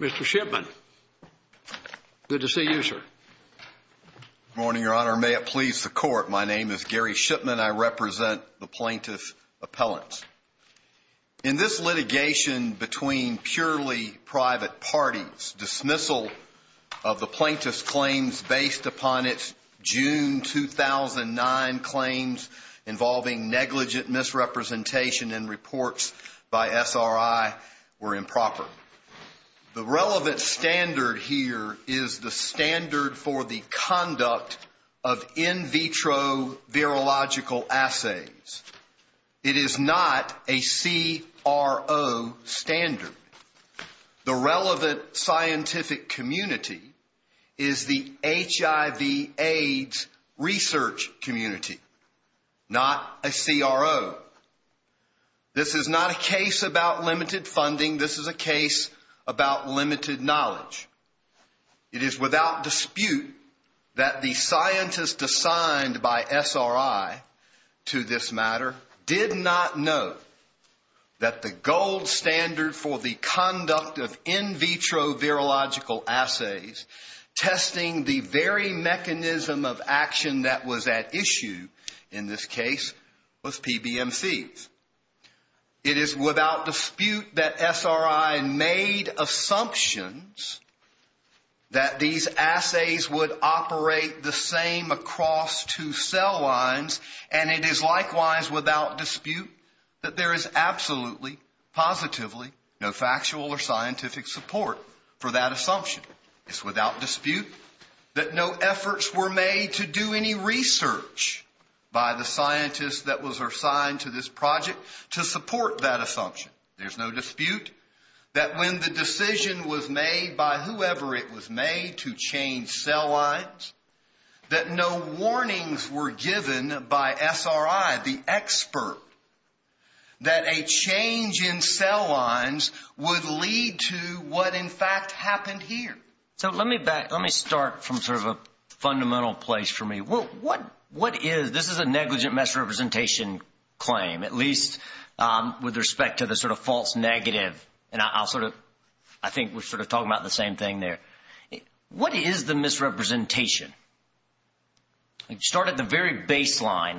Mr. Shipman, good to see you, sir. Good morning, Your Honor. May it please the Court, my name is Gary Shipman. I represent the plaintiff's appellants. In this litigation between purely private parties, dismissal of the plaintiff's claims based upon its June 2009 claims involving negligent misrepresentation in reports by SRI were improper. The relevant standard here is the standard for the conduct of in vitro virological assays. It is not a CRO standard. The relevant scientific community is the HIV AIDS research community, not a CRO. This is not a case about limited funding, this is a case about limited knowledge. It is without dispute that the scientist assigned by SRI to this matter did not know that the gold standard for the conduct of in vitro virological assays testing the very mechanism of action that was at issue in this case was PBMCs. It is without dispute that SRI made assumptions that these assays would operate the same across two cell lines, and it is likewise without dispute that there is absolutely, positively, no factual or scientific support for that assumption. It is without dispute that no efforts were made to do any research by the scientist that was assigned to this project to support that assumption. There is no dispute that when the decision was made by whoever it was made to change cell lines, that no warnings were given by SRI, the expert, that a change in cell lines would lead to what in fact happened here. Let me start from a fundamental place for me. This is a negligent misrepresentation claim, at least with respect to the false negative. I think we're talking about the same thing there. What is the misrepresentation? Start at the very baseline.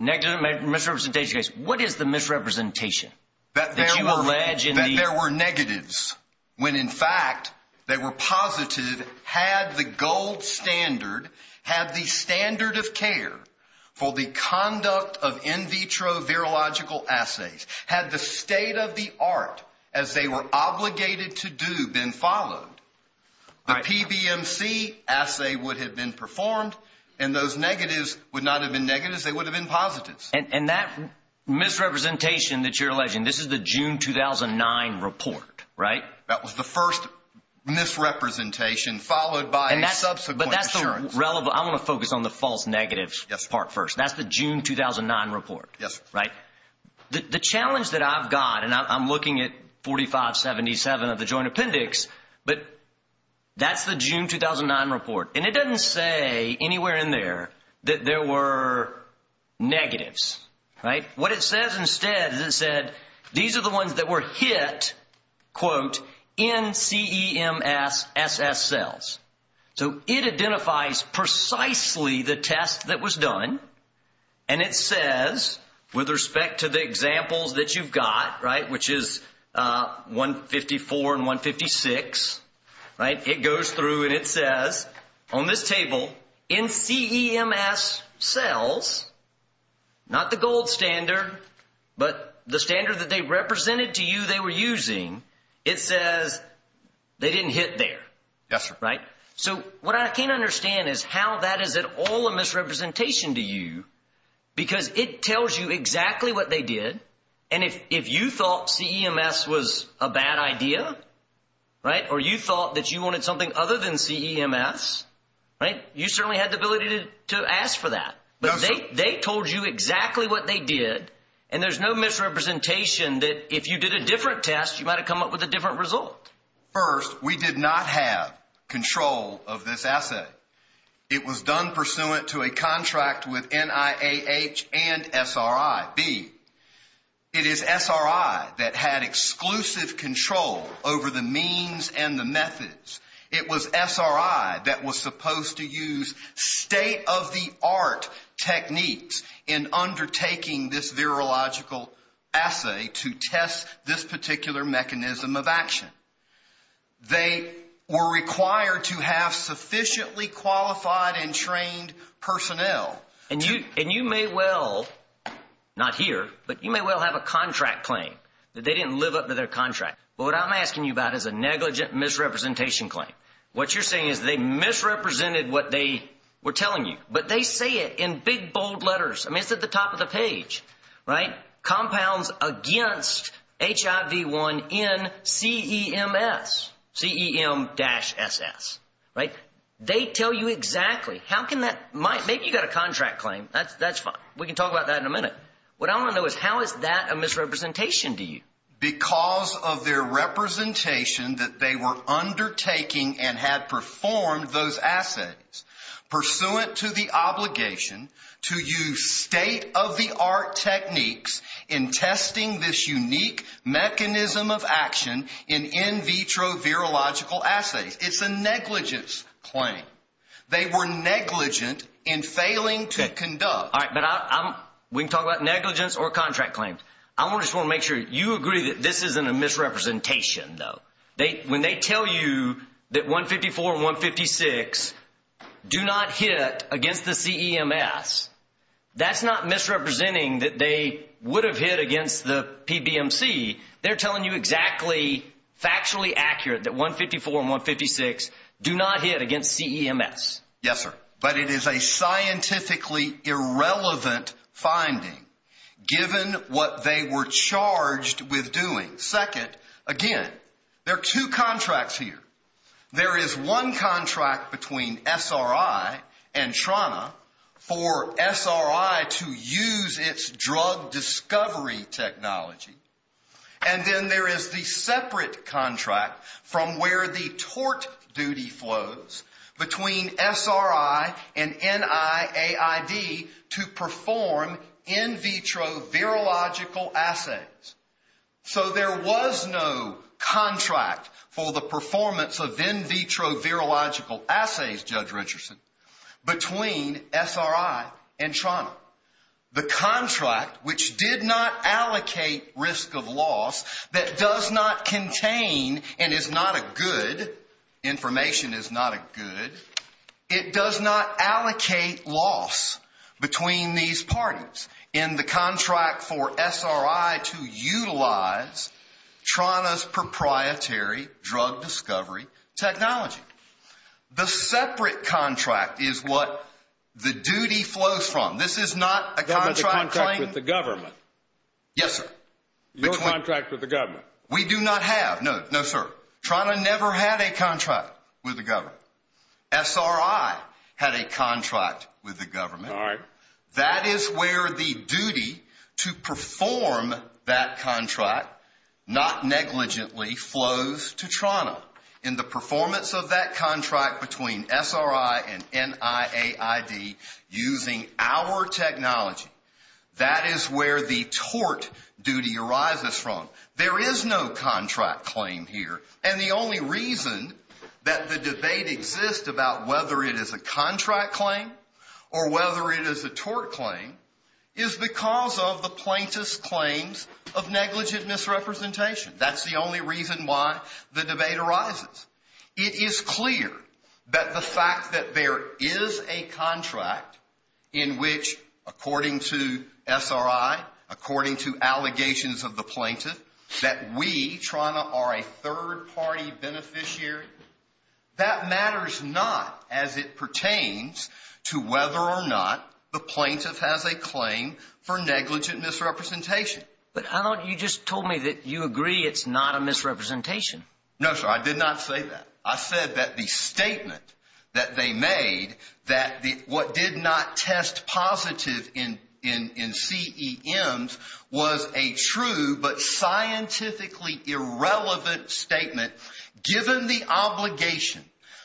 Negligent misrepresentation case. What is the misrepresentation? That there were negatives when in fact they were positive had the gold standard, had the standard of care for the conduct of in vitro virological assays, had the state of the art as they were obligated to do been followed, the PBMC assay would have been performed and those negatives would not have been negatives. They would have been positives. And that misrepresentation that you're alleging, this is the June 2009 report, right? That was the first misrepresentation followed by a subsequent assurance. I want to focus on the false negatives part first. That's the June 2009 report, right? The challenge that I've got, and I'm looking at 4577 of the joint appendix, but that's the June 2009 report. And it doesn't say anywhere in there that there were negatives, right? What it says instead is it said these are the ones that were hit, quote, NCEMSSS cells. So it identifies precisely the test that was done, and it says with respect to the examples that you've got, right, which is 154 and 156, right? It goes through and it says on this table NCEMSS cells, not the gold standard, but the standard that they represented to you they were using. It says they didn't hit there. Yes, sir. Right? So what I can't understand is how that is at all a misrepresentation to you because it tells you exactly what they did. And if you thought CEMS was a bad idea, right, or you thought that you wanted something other than CEMS, right, you certainly had the ability to ask for that. But they told you exactly what they did, and there's no misrepresentation that if you did a different test, you might have come up with a different result. First, we did not have control of this assay. It was done pursuant to a contract with NIAH and SRIB. It is SRI that had exclusive control over the means and the methods. It was SRI that was supposed to use state-of-the-art techniques in undertaking this virological assay to test this particular mechanism of action. They were required to have sufficiently qualified and trained personnel. And you may well, not here, but you may well have a contract claim that they didn't live up to their contract. But what I'm asking you about is a negligent misrepresentation claim. What you're saying is they misrepresented what they were telling you, but they say it in big, bold letters. I mean, it's at the top of the page, right? Compounds against HIV-1 in CEM-SS. They tell you exactly. Maybe you've got a contract claim. That's fine. We can talk about that in a minute. What I want to know is how is that a misrepresentation to you? Because of their representation that they were undertaking and had performed those assays, pursuant to the obligation to use state-of-the-art techniques in testing this unique mechanism of action in in vitro virological assays. It's a negligence claim. They were negligent in failing to conduct. All right, but we can talk about negligence or contract claims. I just want to make sure you agree that this isn't a misrepresentation, though. When they tell you that 154 and 156 do not hit against the CEM-SS, that's not misrepresenting that they would have hit against the PBMC. They're telling you exactly, factually accurate that 154 and 156 do not hit against CEM-SS. Yes, sir, but it is a scientifically irrelevant finding, given what they were charged with doing. Second, again, there are two contracts here. There is one contract between SRI and TRNA for SRI to use its drug discovery technology, and then there is the separate contract from where the tort duty flows between SRI and NIAID to perform in vitro virological assays. So there was no contract for the performance of in vitro virological assays, Judge Richardson, between SRI and TRNA. The contract, which did not allocate risk of loss, that does not contain and is not a good, information is not a good, it does not allocate loss between these parties in the contract for SRI to utilize TRNA's proprietary drug discovery technology. The separate contract is what the duty flows from. This is not a contract claim. That was a contract with the government. Yes, sir. Your contract with the government. We do not have. No, no, sir. TRNA never had a contract with the government. SRI had a contract with the government. All right. That is where the duty to perform that contract, not negligently, flows to TRNA. In the performance of that contract between SRI and NIAID using our technology, that is where the tort duty arises from. There is no contract claim here. And the only reason that the debate exists about whether it is a contract claim or whether it is a tort claim is because of the plaintiff's claims of negligent misrepresentation. That's the only reason why the debate arises. It is clear that the fact that there is a contract in which, according to SRI, according to allegations of the plaintiff, that we, TRNA, are a third-party beneficiary, that matters not as it pertains to whether or not the plaintiff has a claim for negligent misrepresentation. But how about you just told me that you agree it's not a misrepresentation? No, sir. I did not say that. I said that the statement that they made that what did not test positive in CEMs was a true but scientifically irrelevant statement given the obligation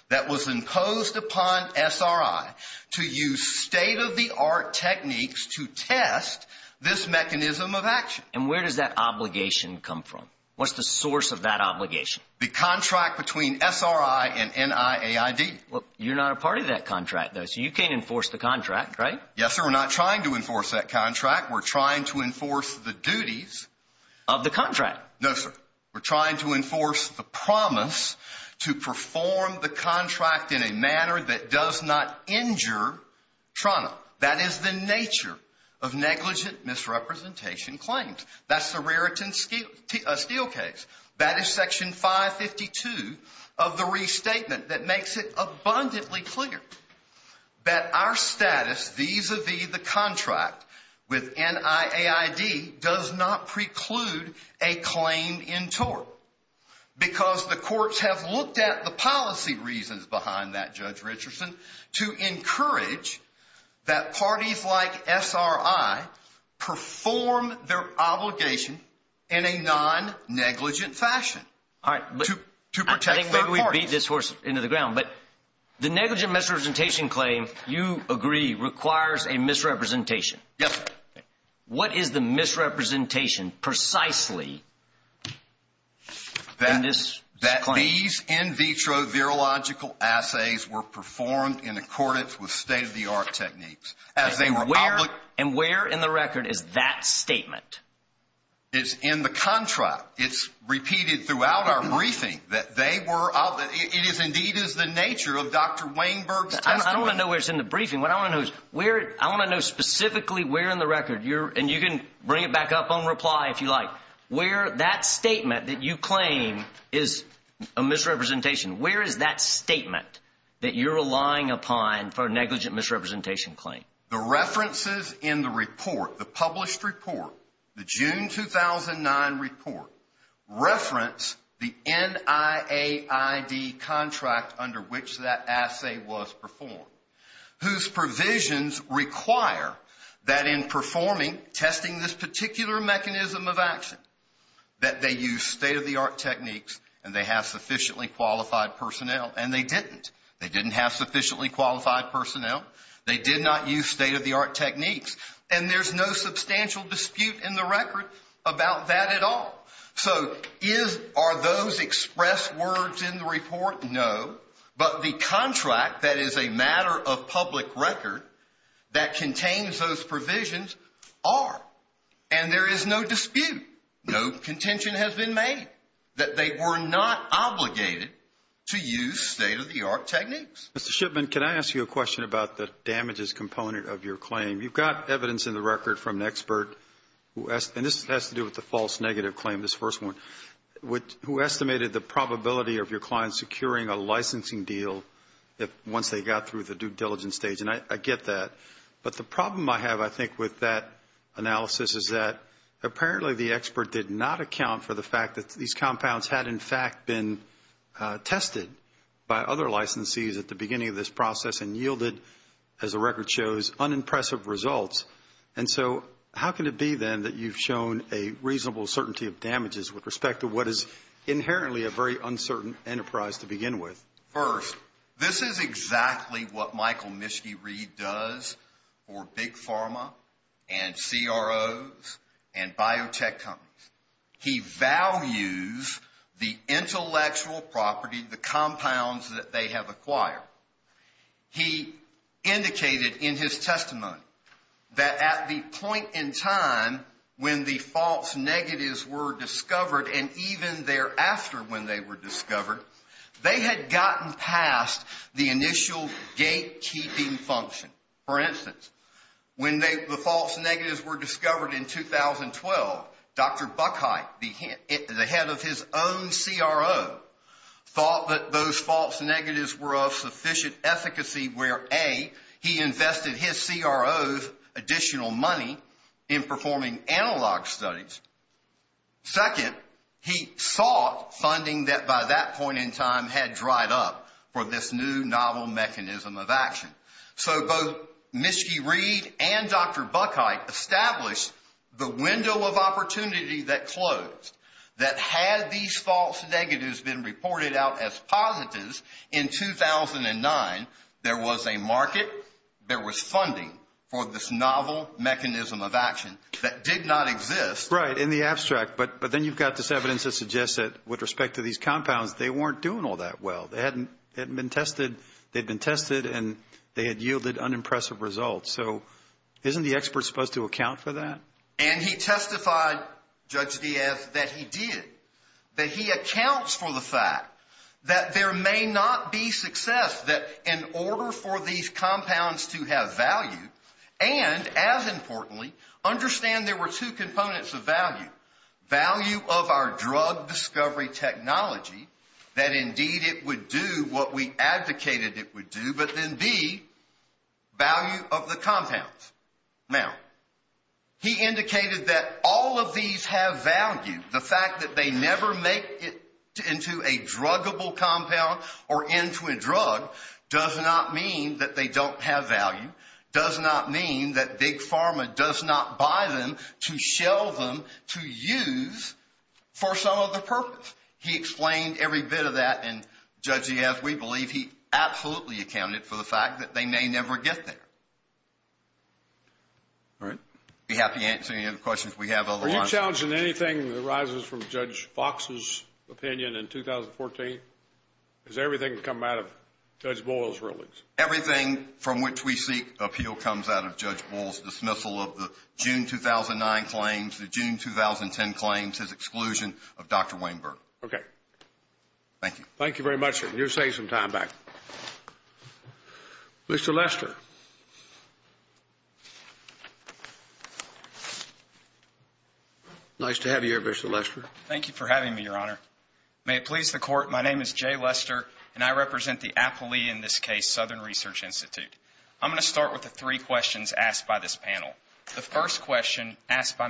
that was imposed upon SRI to use state-of-the-art techniques to test this mechanism of action. And where does that obligation come from? What's the source of that obligation? The contract between SRI and NIAID. You're not a part of that contract, though, so you can't enforce the contract, right? Yes, sir. We're not trying to enforce that contract. We're trying to enforce the duties of the contract. No, sir. We're trying to enforce the promise to perform the contract in a manner that does not injure TRNA. That is the nature of negligent misrepresentation claims. That's the Raritan Steelcase. That is Section 552 of the restatement that makes it abundantly clear that our status vis-a-vis the contract with NIAID does not preclude a claim in tort because the courts have looked at the policy reasons behind that, Judge Richardson, to encourage that parties like SRI perform their obligation in a non-negligent fashion to protect their parties. But the negligent misrepresentation claim, you agree, requires a misrepresentation. Yes, sir. What is the misrepresentation precisely in this claim? That these in vitro virological assays were performed in accordance with state-of-the-art techniques. And where in the record is that statement? It's in the contract. It's repeated throughout our briefing that they were, it indeed is the nature of Dr. Weinberg's testimony. I don't want to know where it's in the briefing. What I want to know is where, I want to know specifically where in the record, and you can bring it back up on reply if you like, where that statement that you claim is a misrepresentation, where is that statement that you're relying upon for a negligent misrepresentation claim? The references in the report, the published report, the June 2009 report, reference the NIAID contract under which that assay was performed, whose provisions require that in performing, testing this particular mechanism of action, that they use state-of-the-art techniques and they have sufficiently qualified personnel. And they didn't. They didn't have sufficiently qualified personnel. They did not use state-of-the-art techniques. And there's no substantial dispute in the record about that at all. So are those expressed words in the report? No. But the contract that is a matter of public record that contains those provisions are. And there is no dispute. No contention has been made that they were not obligated to use state-of-the-art techniques. Mr. Shipman, can I ask you a question about the damages component of your claim? You've got evidence in the record from an expert, and this has to do with the false negative claim, this first one, who estimated the probability of your client securing a licensing deal once they got through the due diligence stage. And I get that. But the problem I have, I think, with that analysis is that apparently the expert did not account for the fact that these compounds had, in fact, been tested by other licensees at the beginning of this process and yielded, as the record shows, unimpressive results. And so how can it be, then, that you've shown a reasonable certainty of damages with respect to what is inherently a very uncertain enterprise to begin with? First, this is exactly what Michael Mischke-Reed does for Big Pharma and CROs and biotech companies. He values the intellectual property, the compounds that they have acquired. He indicated in his testimony that at the point in time when the false negatives were discovered, and even thereafter when they were discovered, they had gotten past the initial gatekeeping function. For instance, when the false negatives were discovered in 2012, Dr. Buckhite, the head of his own CRO, thought that those false negatives were of sufficient efficacy where, A, he invested his CRO's additional money in performing analog studies. Second, he sought funding that by that point in time had dried up for this new novel mechanism of action. So both Mischke-Reed and Dr. Buckhite established the window of opportunity that closed. That had these false negatives been reported out as positives in 2009, there was a market, there was funding for this novel mechanism of action that did not exist. Right, in the abstract. But then you've got this evidence that suggests that with respect to these compounds, they weren't doing all that well. They hadn't been tested, they'd been tested, and they had yielded unimpressive results. So isn't the expert supposed to account for that? And he testified, Judge Diaz, that he did. That he accounts for the fact that there may not be success that in order for these compounds to have value, and as importantly, understand there were two components of value. Value of our drug discovery technology, that indeed it would do what we advocated it would do, but then the value of the compounds. Now, he indicated that all of these have value. The fact that they never make it into a druggable compound or into a drug does not mean that they don't have value. Does not mean that Big Pharma does not buy them to shell them to use for some other purpose. He explained every bit of that, and Judge Diaz, we believe he absolutely accounted for the fact that they may never get there. All right. Be happy to answer any other questions we have. Are you challenging anything that arises from Judge Fox's opinion in 2014? Is everything coming out of Judge Boyle's rulings? Everything from which we seek appeal comes out of Judge Boyle's dismissal of the June 2009 claims, the June 2010 claims, his exclusion of Dr. Weinberg. Okay. Thank you. Thank you very much. You're saving some time back. Mr. Lester. Nice to have you here, Mr. Lester. Thank you for having me, Your Honor. May it please the Court, my name is Jay Lester, and I represent the Appley, in this case, Southern Research Institute. I'm going to start with the three questions asked by this panel. The first question asked by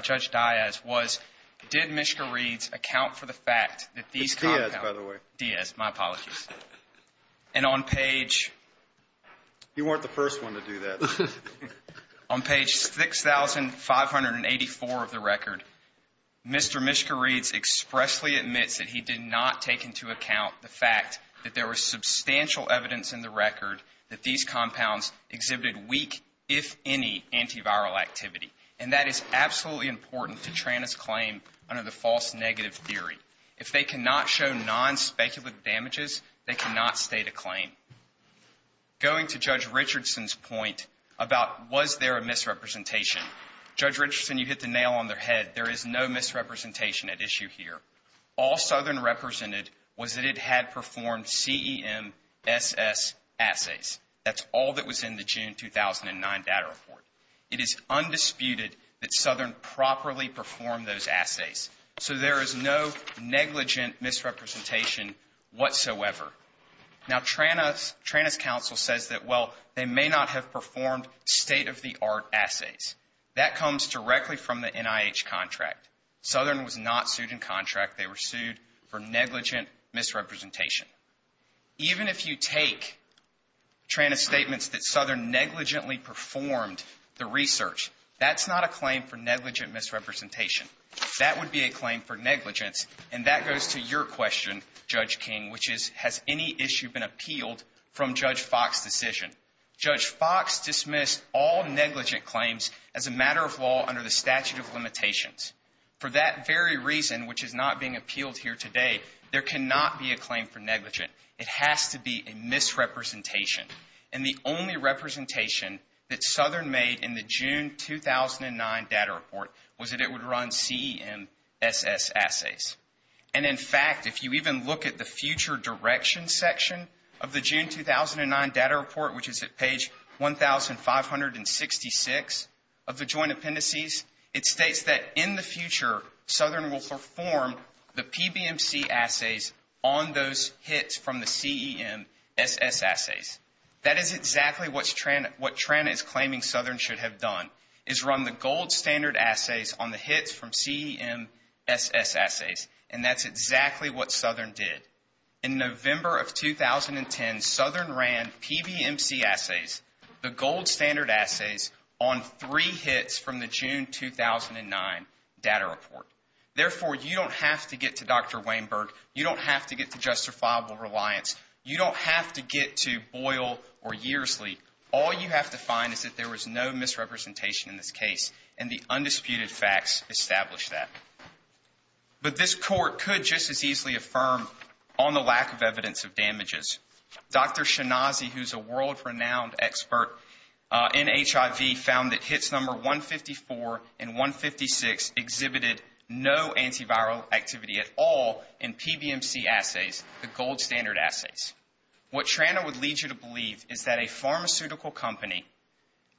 Judge Diaz was, did Mishka Reeds account for the fact that these compounds Diaz, by the way. Diaz, my apologies. And on page You weren't the first one to do that. On page 6584 of the record, Mr. Mishka Reeds expressly admits that he did not take into account the fact that there was substantial evidence in the record that these compounds exhibited weak, if any, antiviral activity. And that is absolutely important to Tranna's claim under the false negative theory. If they cannot show non-speculative damages, they cannot state a claim. Going to Judge Richardson's point about was there a misrepresentation, Judge Richardson, you hit the nail on their head. There is no misrepresentation at issue here. All Southern represented was that it had performed CEMSS assays. That's all that was in the June 2009 data report. It is undisputed that Southern properly performed those assays. So there is no negligent misrepresentation whatsoever. Now, Tranna's counsel says that, well, they may not have performed state-of-the-art assays. That comes directly from the NIH contract. Southern was not sued in contract. They were sued for negligent misrepresentation. Even if you take Tranna's statements that Southern negligently performed the research, that's not a claim for negligent misrepresentation. That would be a claim for negligence. And that goes to your question, Judge King, which is has any issue been appealed from Judge Fox's decision? Judge Fox dismissed all negligent claims as a matter of law under the statute of limitations. For that very reason, which is not being appealed here today, there cannot be a claim for negligent. It has to be a misrepresentation. And the only representation that Southern made in the June 2009 data report was that it would run CEMSS assays. And, in fact, if you even look at the future direction section of the June 2009 data report, which is at page 1,566 of the joint appendices, it states that in the future Southern will perform the PBMC assays on those hits from the CEMSS assays. That is exactly what Tranna is claiming Southern should have done, is run the gold standard assays on the hits from CEMSS assays. And that's exactly what Southern did. In November of 2010, Southern ran PBMC assays, the gold standard assays, on three hits from the June 2009 data report. Therefore, you don't have to get to Dr. Weinberg. You don't have to get to justifiable reliance. You don't have to get to Boyle or Yearsley. All you have to find is that there was no misrepresentation in this case, and the undisputed facts establish that. But this court could just as easily affirm on the lack of evidence of damages. Dr. Shinazi, who's a world-renowned expert in HIV, found that hits number 154 and 156 exhibited no antiviral activity at all in PBMC assays, the gold standard assays. What Tranna would lead you to believe is that a pharmaceutical company,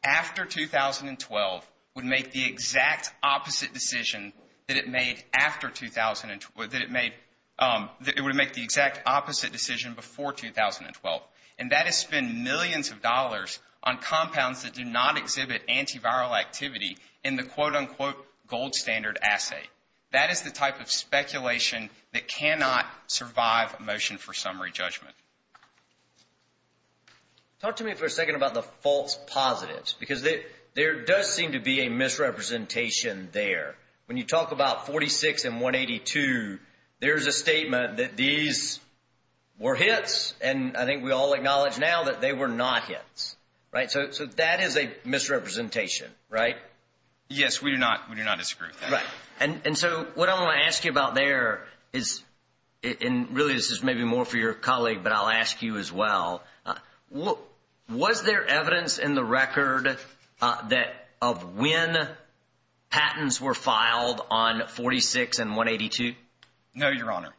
after 2012, would make the exact opposite decision that it made after 2012, that it would make the exact opposite decision before 2012. And that is spend millions of dollars on compounds that do not exhibit antiviral activity in the quote-unquote gold standard assay. That is the type of speculation that cannot survive a motion for summary judgment. Talk to me for a second about the false positives, because there does seem to be a misrepresentation there. When you talk about 46 and 182, there's a statement that these were hits, and I think we all acknowledge now that they were not hits. Right? So that is a misrepresentation, right? Yes, we do not disagree with that. And so what I want to ask you about there is, and really this is maybe more for your colleague, but I'll ask you as well. Was there evidence in the record of when patents were filed on 46 and 182? No, Your Honor.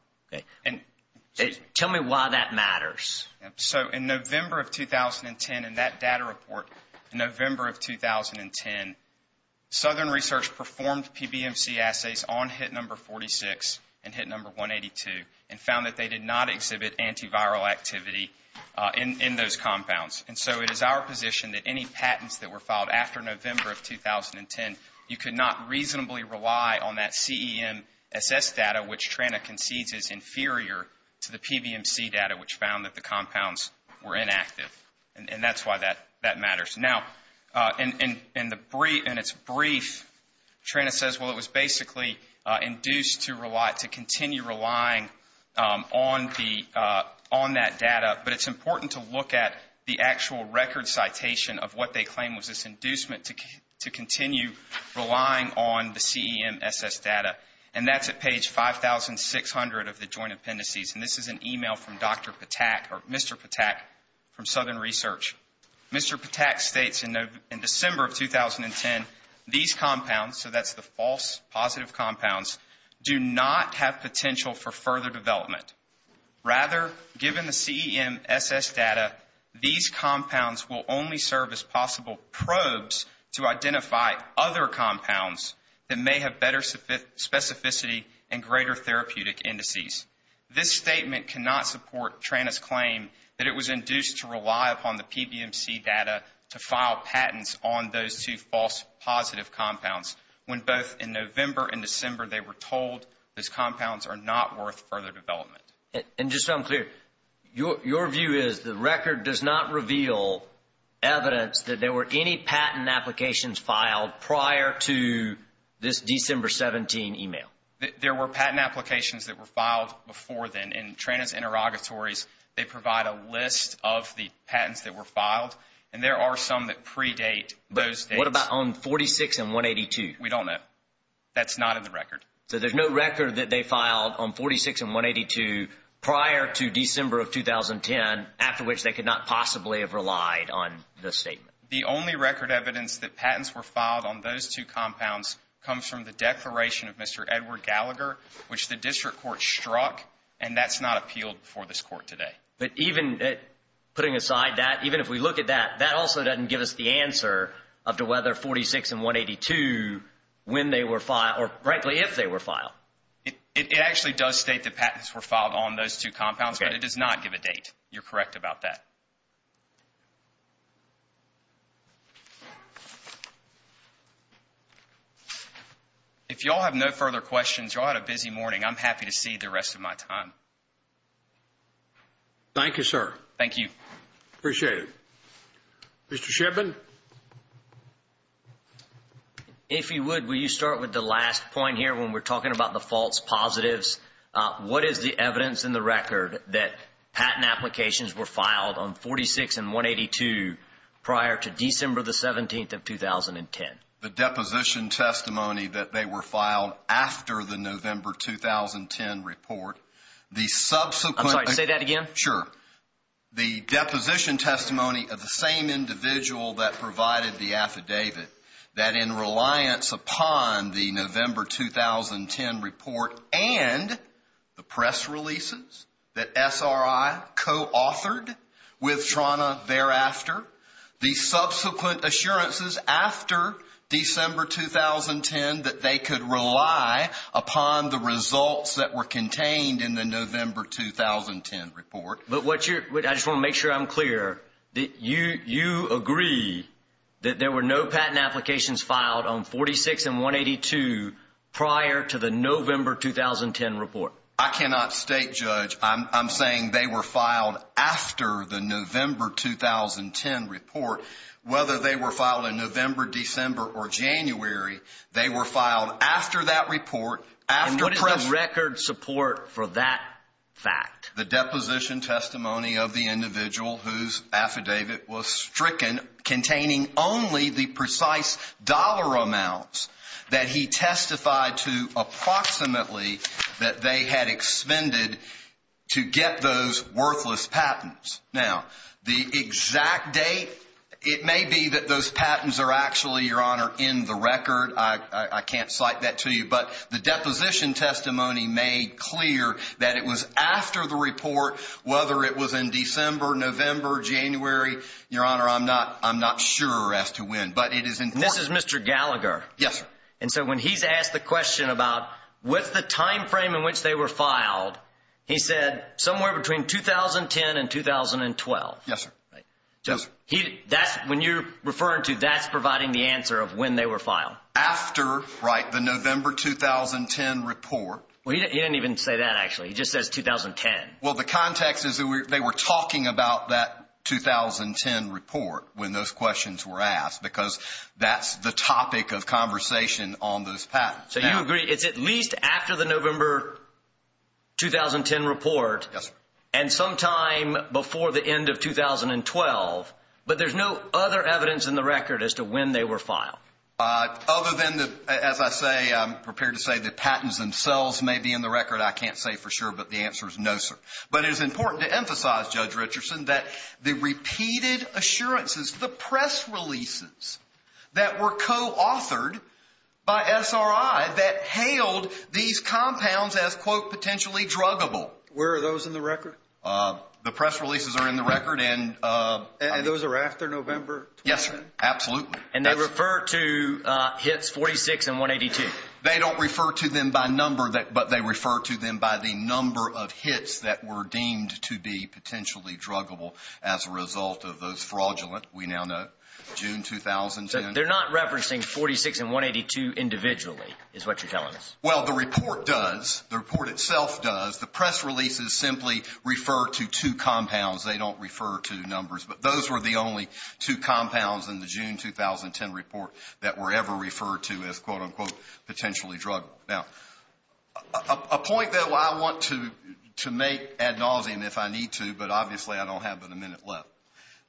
Tell me why that matters. So in November of 2010, in that data report in November of 2010, Southern Research performed PBMC assays on hit number 46 and hit number 182 and found that they did not exhibit antiviral activity in those compounds. And so it is our position that any patents that were filed after November of 2010, you could not reasonably rely on that CEMSS data, which TRANA concedes is inferior to the PBMC data, which found that the compounds were inactive. And that's why that matters. Now, in its brief, TRANA says, well, it was basically induced to continue relying on that data, but it's important to look at the actual record citation of what they claim was this inducement to continue relying on the CEMSS data. And that's at page 5,600 of the joint appendices. And this is an email from Dr. Patak or Mr. Patak from Southern Research. Mr. Patak states in December of 2010, these compounds, so that's the false positive compounds, do not have potential for further development. Rather, given the CEMSS data, these compounds will only serve as possible probes to identify other compounds that may have better specificity and greater therapeutic indices. This statement cannot support TRANA's claim that it was induced to rely upon the PBMC data to file patents on those two false positive compounds when both in November and December they were told those compounds are not worth further development. And just so I'm clear, your view is the record does not reveal evidence that there were any patent applications filed prior to this December 17 email? There were patent applications that were filed before then. In TRANA's interrogatories, they provide a list of the patents that were filed, and there are some that predate those dates. But what about on 46 and 182? We don't know. That's not in the record. So there's no record that they filed on 46 and 182 prior to December of 2010, after which they could not possibly have relied on this statement? The only record evidence that patents were filed on those two compounds comes from the declaration of Mr. Edward Gallagher, which the district court struck, and that's not appealed before this court today. But even putting aside that, even if we look at that, that also doesn't give us the answer as to whether 46 and 182, when they were filed, or frankly, if they were filed. It actually does state that patents were filed on those two compounds, but it does not give a date. You're correct about that. If you all have no further questions, you all had a busy morning. I'm happy to cede the rest of my time. Thank you, sir. Thank you. Appreciate it. Mr. Shibman? If you would, will you start with the last point here when we're talking about the false positives? What is the evidence in the record that patent applications were filed on 46 and 182 prior to December the 17th of 2010? The deposition testimony that they were filed after the November 2010 report. I'm sorry, say that again? Sure. The deposition testimony of the same individual that provided the affidavit, that in reliance upon the November 2010 report and the press releases that SRI co-authored with TRANA thereafter, the subsequent assurances after December 2010 that they could rely upon the results that were contained in the November 2010 report. I just want to make sure I'm clear. You agree that there were no patent applications filed on 46 and 182 prior to the November 2010 report? I cannot state, Judge. I'm saying they were filed after the November 2010 report. Whether they were filed in November, December, or January, they were filed after that report. What is the record support for that fact? The deposition testimony of the individual whose affidavit was stricken, containing only the precise dollar amounts that he testified to approximately that they had expended to get those worthless patents. Now, the exact date, it may be that those patents are actually, Your Honor, in the record. I can't cite that to you, but the deposition testimony made clear that it was after the report, whether it was in December, November, January. Your Honor, I'm not sure as to when, but it is important. This is Mr. Gallagher. Yes, sir. And so when he's asked the question about what's the time frame in which they were filed, he said somewhere between 2010 and 2012. Yes, sir. When you're referring to that's providing the answer of when they were filed. After, right, the November 2010 report. Well, he didn't even say that, actually. He just says 2010. Well, the context is they were talking about that 2010 report when those questions were asked because that's the topic of conversation on those patents. So you agree it's at least after the November 2010 report. Yes, sir. And sometime before the end of 2012, but there's no other evidence in the record as to when they were filed. Other than, as I say, I'm prepared to say the patents themselves may be in the record. I can't say for sure, but the answer is no, sir. But it is important to emphasize, Judge Richardson, that the repeated assurances, the press releases that were co-authored by SRI that hailed these compounds as, quote, potentially druggable. Where are those in the record? The press releases are in the record. And those are after November 2010? Yes, sir. Absolutely. And they refer to hits 46 and 182? They don't refer to them by number, but they refer to them by the number of hits that were deemed to be potentially druggable as a result of those fraudulent, we now know, June 2010. They're not referencing 46 and 182 individually is what you're telling us? Well, the report does. The report itself does. The press releases simply refer to two compounds. They don't refer to numbers, but those were the only two compounds in the June 2010 report that were ever referred to as, quote, unquote, potentially druggable. Now, a point that I want to make ad nauseum if I need to, but obviously I don't have but a minute left.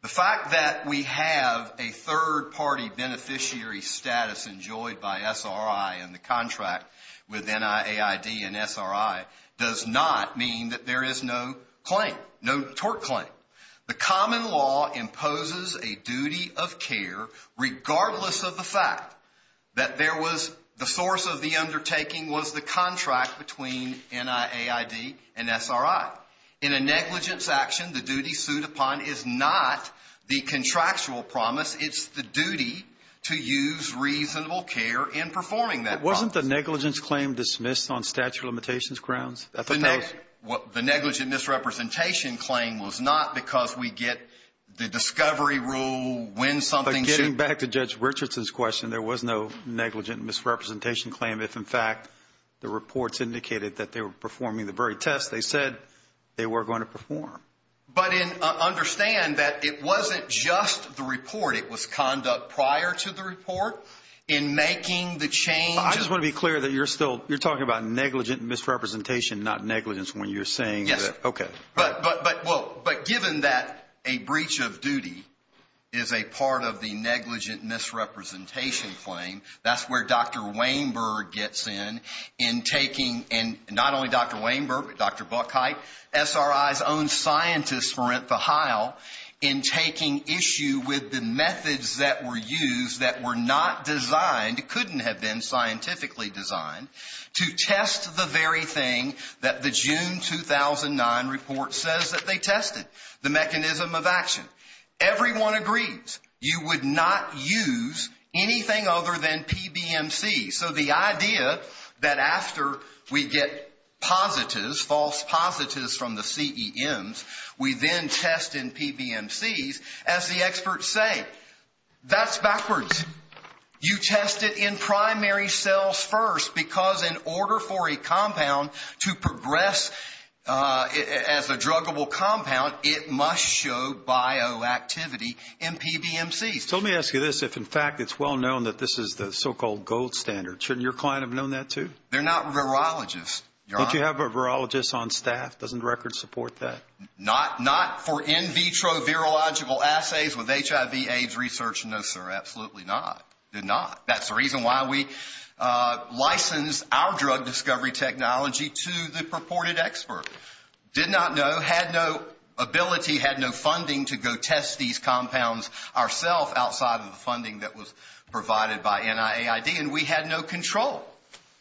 The fact that we have a third-party beneficiary status enjoyed by SRI in the contract with NIAID and SRI does not mean that there is no claim, no tort claim. The common law imposes a duty of care regardless of the fact that there was the source of the undertaking was the contract between NIAID and SRI. In a negligence action, the duty sued upon is not the contractual promise. It's the duty to use reasonable care in performing that promise. Wasn't the negligence claim dismissed on statute of limitations grounds? The negligent misrepresentation claim was not because we get the discovery rule when something should be. But getting back to Judge Richardson's question, there was no negligent misrepresentation claim if, in fact, the reports indicated that they were performing the very test. They said they were going to perform. But understand that it wasn't just the report. It was conduct prior to the report in making the change. I just want to be clear that you're still – you're talking about negligent misrepresentation, not negligence when you're saying that – Yes. Okay. But given that a breach of duty is a part of the negligent misrepresentation claim, that's where Dr. Weinberg gets in in taking – and not only Dr. Weinberg, but Dr. Buckheit, SRI's own scientist, Marenta Heil, in taking issue with the methods that were used that were not designed, couldn't have been scientifically designed, to test the very thing that the June 2009 report says that they tested, the mechanism of action. Everyone agrees you would not use anything other than PBMC. So the idea that after we get positives, false positives from the CEMs, we then test in PBMCs, as the experts say, that's backwards. You test it in primary cells first because in order for a compound to progress as a druggable compound, it must show bioactivity in PBMCs. So let me ask you this. If, in fact, it's well known that this is the so-called gold standard, shouldn't your client have known that, too? They're not virologists, Your Honor. Don't you have a virologist on staff? Doesn't the record support that? Not for in vitro virological assays with HIV AIDS research, no, sir. Absolutely not. Did not. That's the reason why we licensed our drug discovery technology to the purported expert. Did not know, had no ability, had no funding to go test these compounds ourselves outside of the funding that was provided by NIAID, and we had no control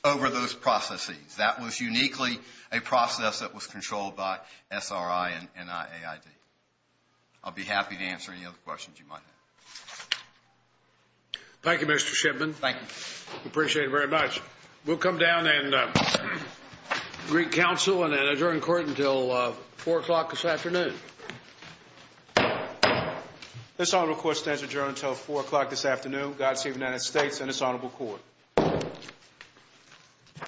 over those processes. That was uniquely a process that was controlled by SRI and NIAID. I'll be happy to answer any other questions you might have. Thank you, Mr. Shipman. Thank you. We appreciate it very much. We'll come down and greet counsel and adjourn court until 4 o'clock this afternoon. This honorable court stands adjourned until 4 o'clock this afternoon. God save the United States and this honorable court.